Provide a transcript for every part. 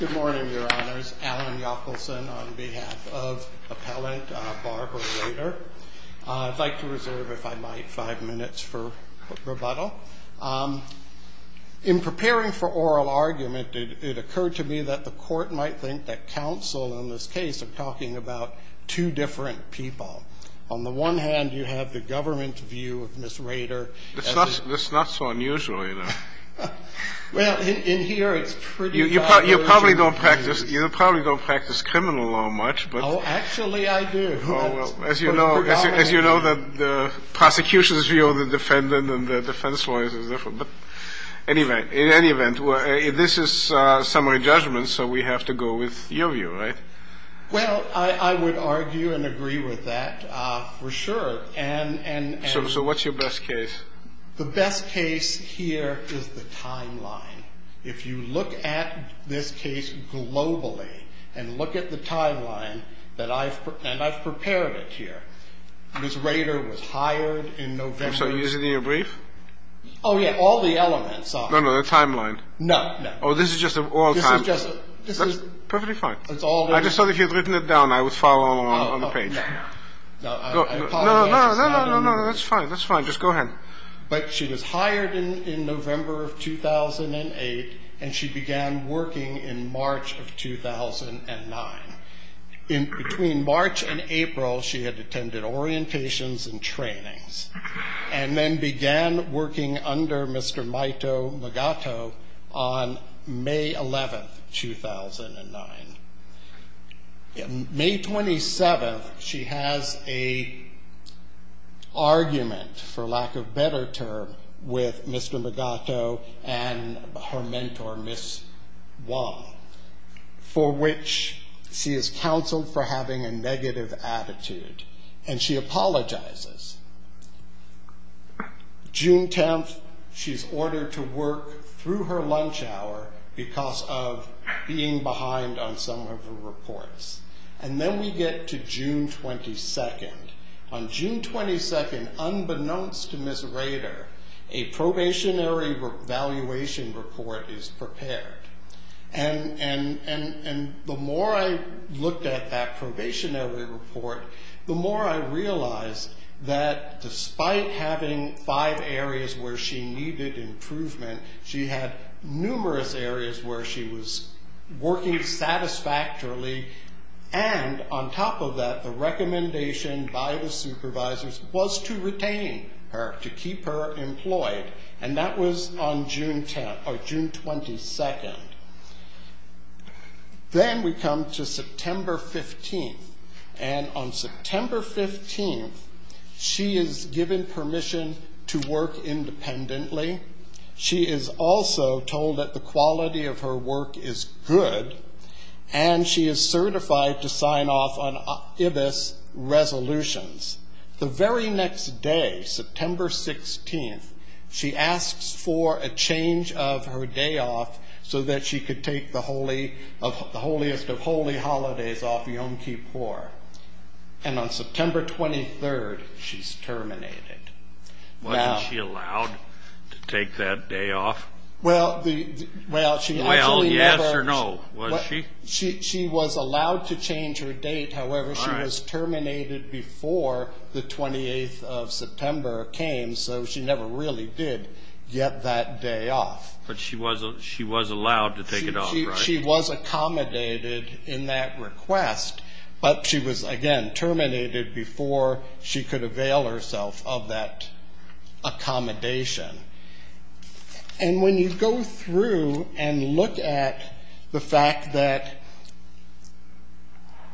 Good morning, Your Honors. Alan Yockelson on behalf of Appellant Barbara Rader. I'd like to reserve, if I might, five minutes for rebuttal. In preparing for oral argument, it occurred to me that the Court might think that counsel in this case are talking about two different people. On the one hand, you have the government view of Ms. Rader. That's not so unusual, either. Well, in here, it's pretty obvious. You probably don't practice criminal law much. Oh, actually, I do. As you know, the prosecution's view of the defendant and the defense lawyer is different. But in any event, this is summary judgment, so we have to go with your view, right? Well, I would argue and agree with that, for sure. So what's your best case? The best case here is the timeline. If you look at this case globally and look at the timeline that I've – and I've prepared it here. Ms. Rader was hired in November. So is it in your brief? Oh, yeah. All the elements are. No, no, the timeline. No, no. Oh, this is just the oral timeline. This is just – this is – Perfectly fine. It's all there. I just thought if you'd written it down, I would follow along on the page. Oh, no, no. No, I apologize. No, no, no. No, no, no. That's fine. That's fine. Just go ahead. But she was hired in November of 2008, and she began working in March of 2009. Between March and April, she had attended orientations and trainings and then began working under Mr. Maito Magato on May 11, 2009. May 27, she has an argument, for lack of a better term, with Mr. Magato and her mentor, Ms. Wong, for which she is counseled for having a negative attitude, and she apologizes. June 10, she's ordered to work through her lunch hour because of being behind on some of her reports. And then we get to June 22. On June 22, unbeknownst to Ms. Rader, a probationary evaluation report is prepared. And the more I looked at that probationary report, the more I realized that despite having five areas where she needed improvement, she had numerous areas where she was working satisfactorily. And on top of that, the recommendation by the supervisors was to retain her, to keep her employed, and that was on June 22. Then we come to September 15, and on September 15, she is given permission to work independently. She is also told that the quality of her work is good, and she is certified to sign off on IBIS resolutions. The very next day, September 16, she asks for a change of her day off so that she could take the holiest of holy holidays off Yom Kippur. And on September 23, she's terminated. Wasn't she allowed to take that day off? Well, yes or no. Was she? She was allowed to change her date. However, she was terminated before the 28th of September came, so she never really did get that day off. But she was allowed to take it off, right? She was accommodated in that request, but she was, again, terminated before she could avail herself of that accommodation. And when you go through and look at the fact that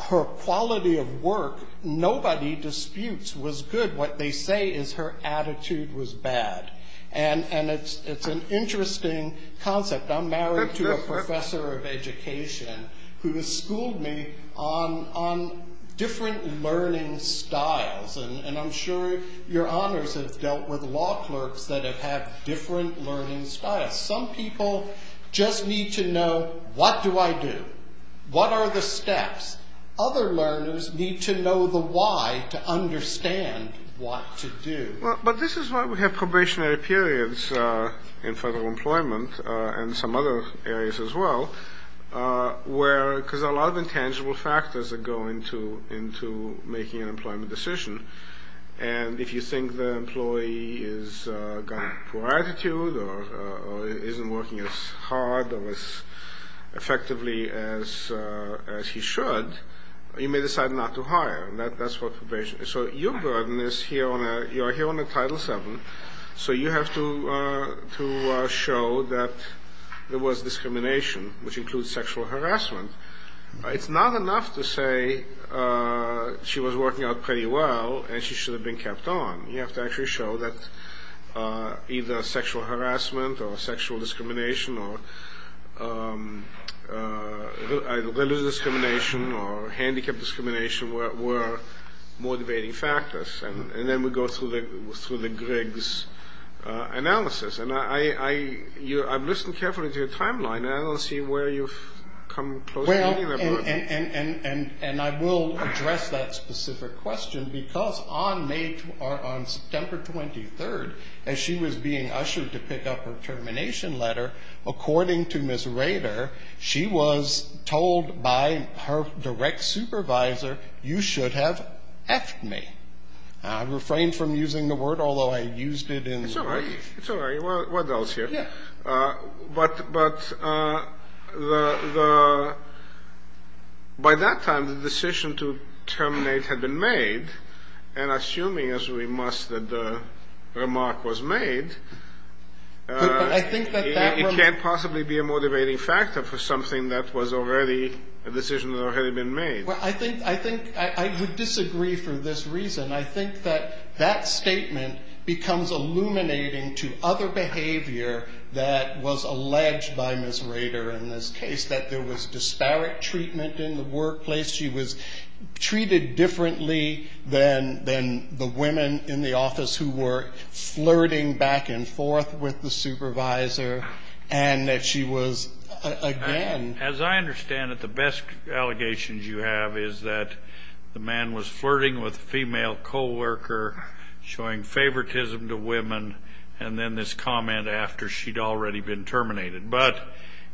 her quality of work, nobody disputes was good. What they say is her attitude was bad, and it's an interesting concept. I'm married to a professor of education who has schooled me on different learning styles, and I'm sure your honors have dealt with law clerks that have had different learning styles. Some people just need to know, what do I do? What are the steps? Other learners need to know the why to understand what to do. But this is why we have probationary periods in federal employment and some other areas as well, because there are a lot of intangible factors that go into making an employment decision. And if you think the employee has got a poor attitude or isn't working as hard or as effectively as he should, you may decide not to hire, and that's what probation is. So your burden is here on a Title VII, so you have to show that there was discrimination, which includes sexual harassment. It's not enough to say she was working out pretty well and she should have been kept on. You have to actually show that either sexual harassment or sexual discrimination or religious discrimination or handicap discrimination were motivating factors. And then we go through the Griggs analysis. And I've listened carefully to your timeline, and I don't see where you've come close to meeting that burden. Well, and I will address that specific question because on September 23rd, as she was being ushered to pick up her termination letter, according to Ms. Rader, she was told by her direct supervisor, you should have F'd me. I refrained from using the word, although I used it in the brief. It's all right. It's all right. What else here? Yeah. But by that time, the decision to terminate had been made, and assuming, as we must, that the remark was made, it can't possibly be a motivating factor for something that was already a decision that had already been made. Well, I think I would disagree for this reason. I think that that statement becomes illuminating to other behavior that was alleged by Ms. Rader in this case, that there was disparate treatment in the workplace. She was treated differently than the women in the office who were flirting back and forth with the supervisor, and that she was, again. As I understand it, the best allegations you have is that the man was flirting with a female co-worker, showing favoritism to women, and then this comment after she'd already been terminated. But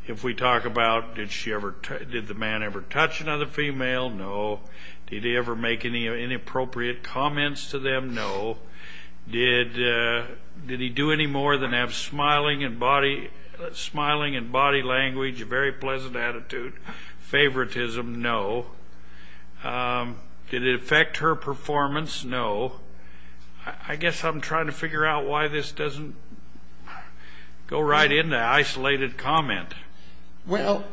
if we talk about did the man ever touch another female? No. Did he ever make any inappropriate comments to them? No. Did he do any more than have smiling and body language, a very pleasant attitude, favoritism? No. Did it affect her performance? No. I guess I'm trying to figure out why this doesn't go right into an isolated comment. Well,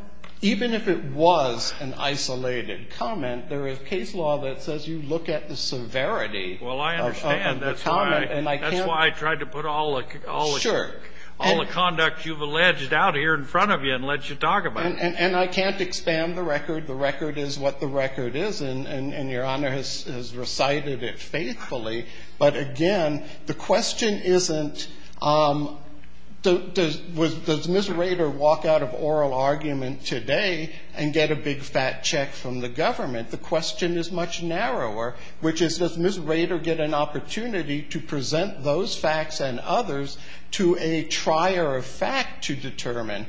even if it was an isolated comment, there is case law that says you look at the severity. Well, I understand. That's why I tried to put all the conduct you've alleged out here in front of you and let you talk about it. And I can't expand the record. The record is what the record is, and Your Honor has recited it faithfully. But, again, the question isn't does Ms. Rader walk out of oral argument today and get a big fat check from the government? The question is much narrower, which is does Ms. Rader get an opportunity to present those facts and others to a trier of fact to determine?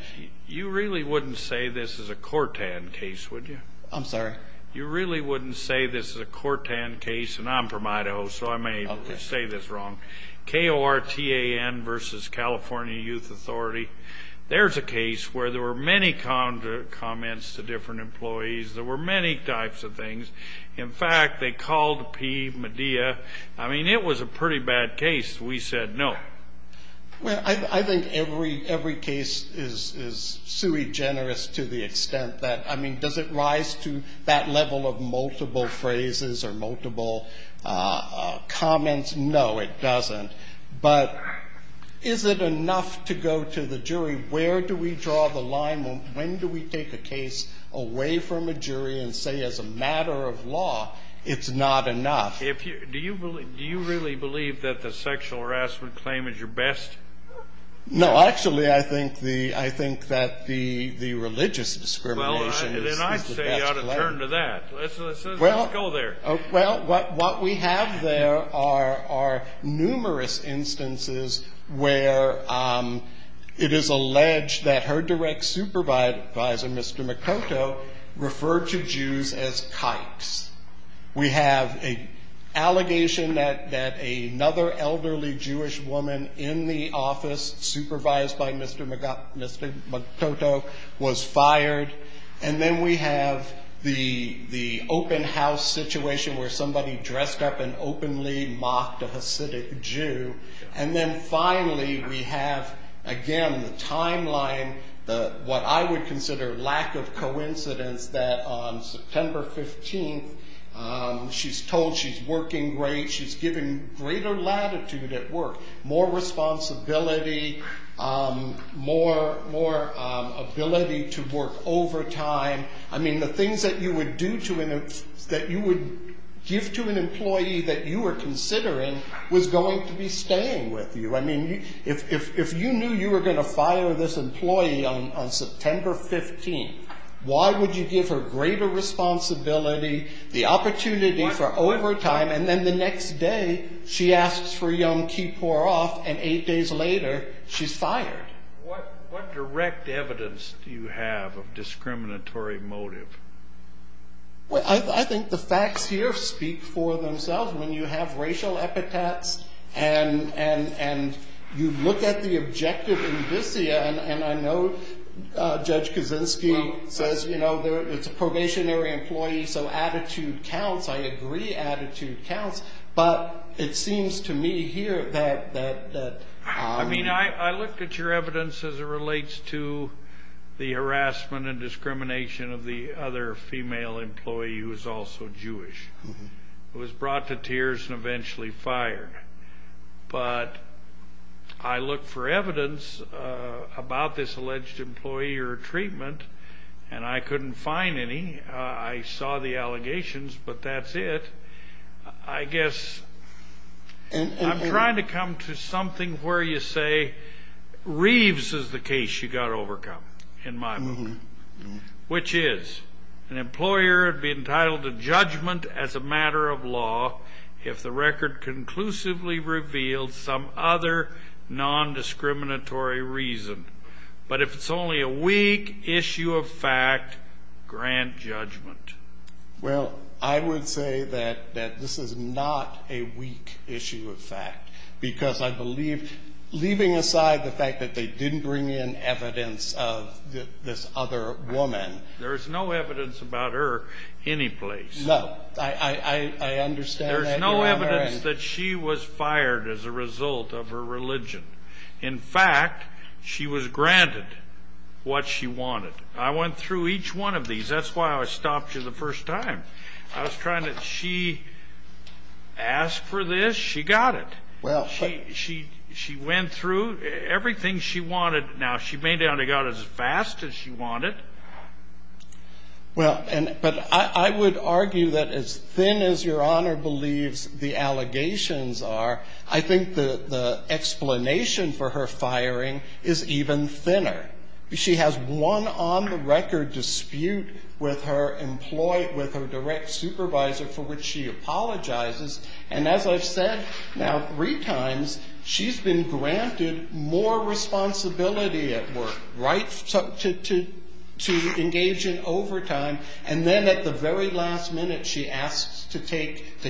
You really wouldn't say this is a Cortan case, would you? I'm sorry? You really wouldn't say this is a Cortan case. And I'm from Idaho, so I may say this wrong. K-O-R-T-A-N versus California Youth Authority. There's a case where there were many comments to different employees. There were many types of things. In fact, they called P. Medea. I mean, it was a pretty bad case. We said no. Well, I think every case is sui generis to the extent that, I mean, does it rise to that level of multiple phrases or multiple comments? No, it doesn't. But is it enough to go to the jury? Where do we draw the line? When do we take a case away from a jury and say as a matter of law it's not enough? Do you really believe that the sexual harassment claim is your best? No, actually I think that the religious discrimination is the best claim. Well, then I say you ought to turn to that. Let's go there. Well, what we have there are numerous instances where it is alleged that her direct supervisor, Mr. McOtto, referred to Jews as kikes. We have an allegation that another elderly Jewish woman in the office supervised by Mr. McOtto was fired, and then we have the open house situation where somebody dressed up and openly mocked a Hasidic Jew, and then finally we have, again, the timeline, what I would consider lack of coincidence, that on September 15th she's told she's working great, she's given greater latitude at work, more responsibility, more ability to work overtime. I mean, the things that you would give to an employee that you were considering was going to be staying with you. I mean, if you knew you were going to fire this employee on September 15th, why would you give her greater responsibility, the opportunity for overtime, and then the next day she asks for Yom Kippur off, and eight days later she's fired. What direct evidence do you have of discriminatory motive? Well, I think the facts here speak for themselves. When you have racial epithets and you look at the objective in Visia, and I know Judge Kaczynski says, you know, it's a probationary employee, so attitude counts. I agree attitude counts, but it seems to me here that- I mean, I looked at your evidence as it relates to the harassment and discrimination of the other female employee who was also Jewish, who was brought to tears and eventually fired. But I looked for evidence about this alleged employee or treatment, and I couldn't find any. I saw the allegations, but that's it. I guess I'm trying to come to something where you say Reeves is the case you've got to overcome in my book, which is an employer would be entitled to judgment as a matter of law if the record conclusively reveals some other nondiscriminatory reason. But if it's only a weak issue of fact, grant judgment. Well, I would say that this is not a weak issue of fact, because I believe, leaving aside the fact that they didn't bring in evidence of this other woman- There's no evidence about her anyplace. No, I understand that. There's no evidence that she was fired as a result of her religion. In fact, she was granted what she wanted. I went through each one of these. That's why I stopped you the first time. I was trying to- she asked for this. She got it. She went through everything she wanted. Now, she may not have got it as fast as she wanted. Well, but I would argue that as thin as Your Honor believes the allegations are, I think the explanation for her firing is even thinner. She has one on-the-record dispute with her direct supervisor for which she apologizes. And as I've said now three times, she's been granted more responsibility at work, right, to engage in overtime. And then at the very last minute, she asks to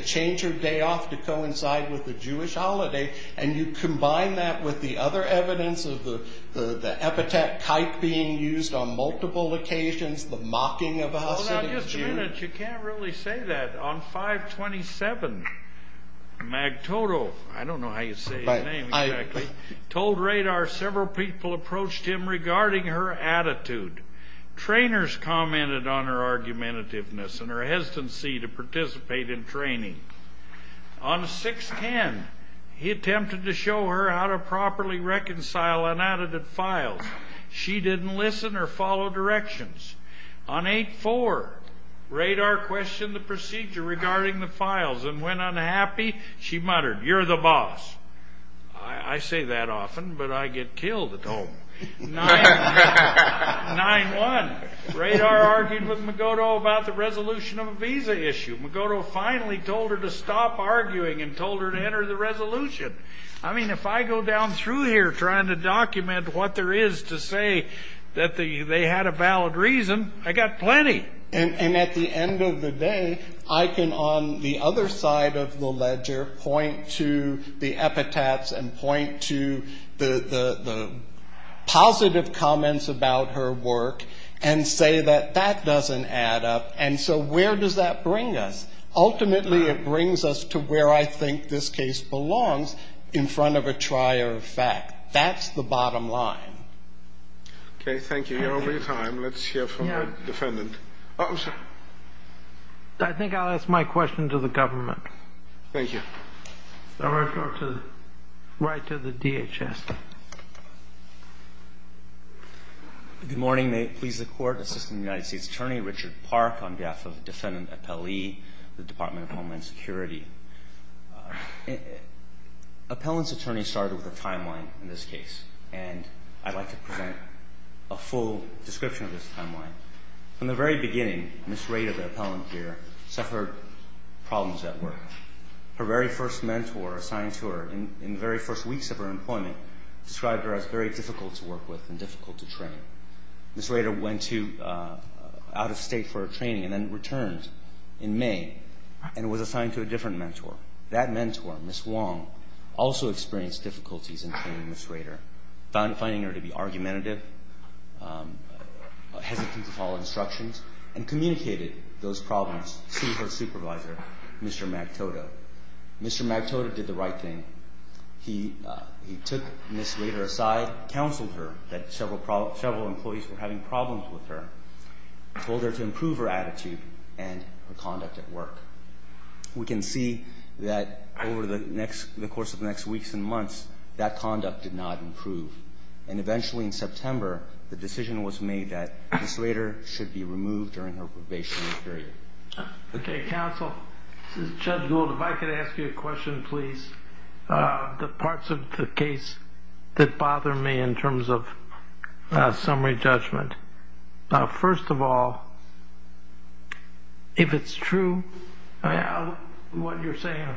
change her day off to coincide with the Jewish holiday. And you combine that with the other evidence of the epithet kike being used on multiple occasions, the mocking of a Hasidic Jew- Hold on just a minute. You can't really say that. On 5-27, Magtoto- I don't know how you say his name exactly- told radar several people approached him regarding her attitude. Trainers commented on her argumentativeness and her hesitancy to participate in training. On 6-10, he attempted to show her how to properly reconcile unadded files. She didn't listen or follow directions. On 8-4, radar questioned the procedure regarding the files, and when unhappy, she muttered, You're the boss. I say that often, but I get killed at home. 9-1, radar argued with Magoto about the resolution of a visa issue. Magoto finally told her to stop arguing and told her to enter the resolution. I mean, if I go down through here trying to document what there is to say that they had a valid reason, I got plenty. And at the end of the day, I can, on the other side of the ledger, point to the epithets and point to the positive comments about her work and say that that doesn't add up. And so where does that bring us? Ultimately, it brings us to where I think this case belongs in front of a trier of fact. That's the bottom line. Okay, thank you. You're over your time. Let's hear from the defendant. Oh, I'm sorry. I think I'll ask my question to the government. Thank you. I'll refer right to the DHS. Good morning. May it please the Court, Assistant United States Attorney Richard Park on behalf of Defendant Appellee, the Department of Homeland Security. Appellant's attorney started with a timeline in this case, and I'd like to present a full description of this timeline. From the very beginning, Ms. Rader, the appellant here, suffered problems at work. Her very first mentor assigned to her in the very first weeks of her employment described her as very difficult to work with and difficult to train. Ms. Rader went out of state for training and then returned in May and was assigned to a different mentor. That mentor, Ms. Wong, also experienced difficulties in training Ms. Rader, finding her to be argumentative, hesitant to follow instructions, and communicated those problems to her supervisor, Mr. Magtoto. Mr. Magtoto did the right thing. He took Ms. Rader aside, counseled her that several employees were having problems with her, told her to improve her attitude and her conduct at work. We can see that over the course of the next weeks and months, that conduct did not improve, and eventually in September, the decision was made that Ms. Rader should be removed during her probationary period. Okay, counsel. Judge Gould, if I could ask you a question, please. The parts of the case that bother me in terms of summary judgment. First of all, if it's true, what you're saying,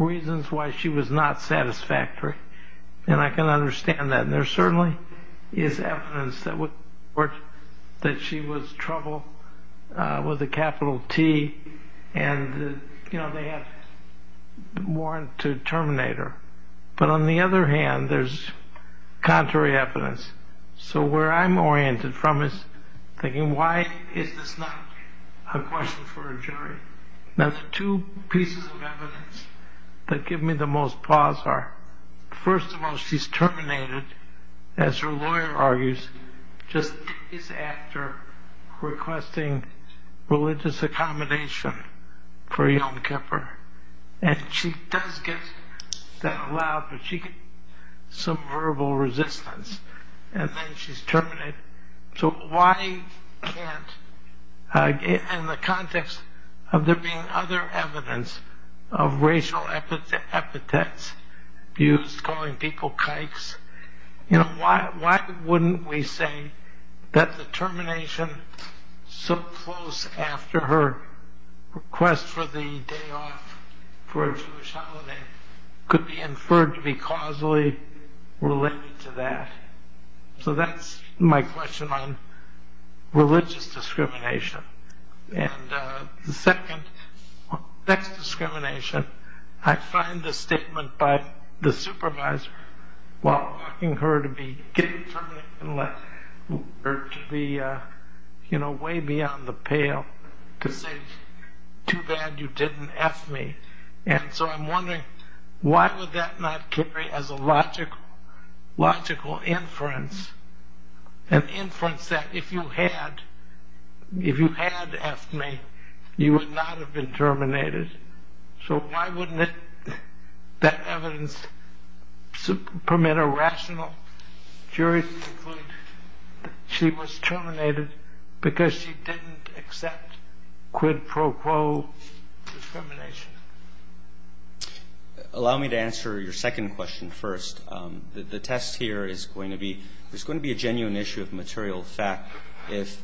reasons why she was not satisfactory, and I can understand that. And there certainly is evidence that she was trouble with a capital T, and they had a warrant to terminate her. But on the other hand, there's contrary evidence. So where I'm oriented from is thinking, why is this not a question for a jury? Now, the two pieces of evidence that give me the most pause are, first of all, she's terminated, as her lawyer argues, just days after requesting religious accommodation for a young kipper. And she does get that allowed, but she gets some verbal resistance, and then she's terminated. So why can't, in the context of there being other evidence of racial epithets, views calling people kikes, why wouldn't we say that the termination so close after her request for the day off for a Jewish holiday could be inferred to be causally related to that? So that's my question on religious discrimination. And the second, sex discrimination. I find the statement by the supervisor while asking her to be getting terminated to be way beyond the pale, to say, too bad you didn't F me. And so I'm wondering, why would that not carry as a logical inference, an inference that if you had F'd me, you would not have been terminated? So why wouldn't that evidence permit a rational jury to conclude she was terminated because she didn't accept quid pro quo discrimination? Allow me to answer your second question first. The test here is going to be, there's going to be a genuine issue of material fact if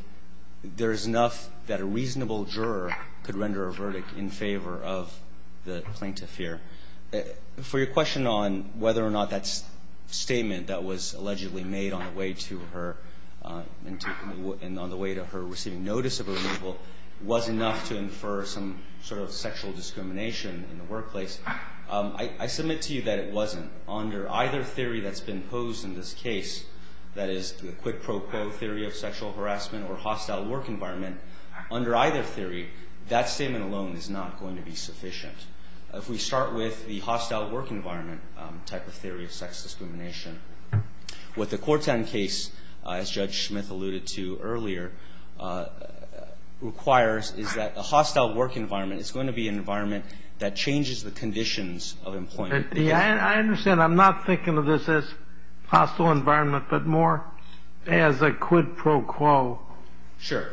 there's enough that a reasonable juror could render a verdict in favor of the plaintiff here. For your question on whether or not that statement that was allegedly made on the way to her and on the way to her receiving notice of her removal was enough to infer some sort of sexual discrimination in the workplace, I submit to you that it wasn't. Under either theory that's been posed in this case, that is the quid pro quo theory of sexual harassment or hostile work environment, under either theory, that statement alone is not going to be sufficient. If we start with the hostile work environment type of theory of sex discrimination, what the Corten case, as Judge Smith alluded to earlier, requires is that a hostile work environment, it's going to be an environment that changes the conditions of employment. I understand. I'm not thinking of this as hostile environment, but more as a quid pro quo. Sure.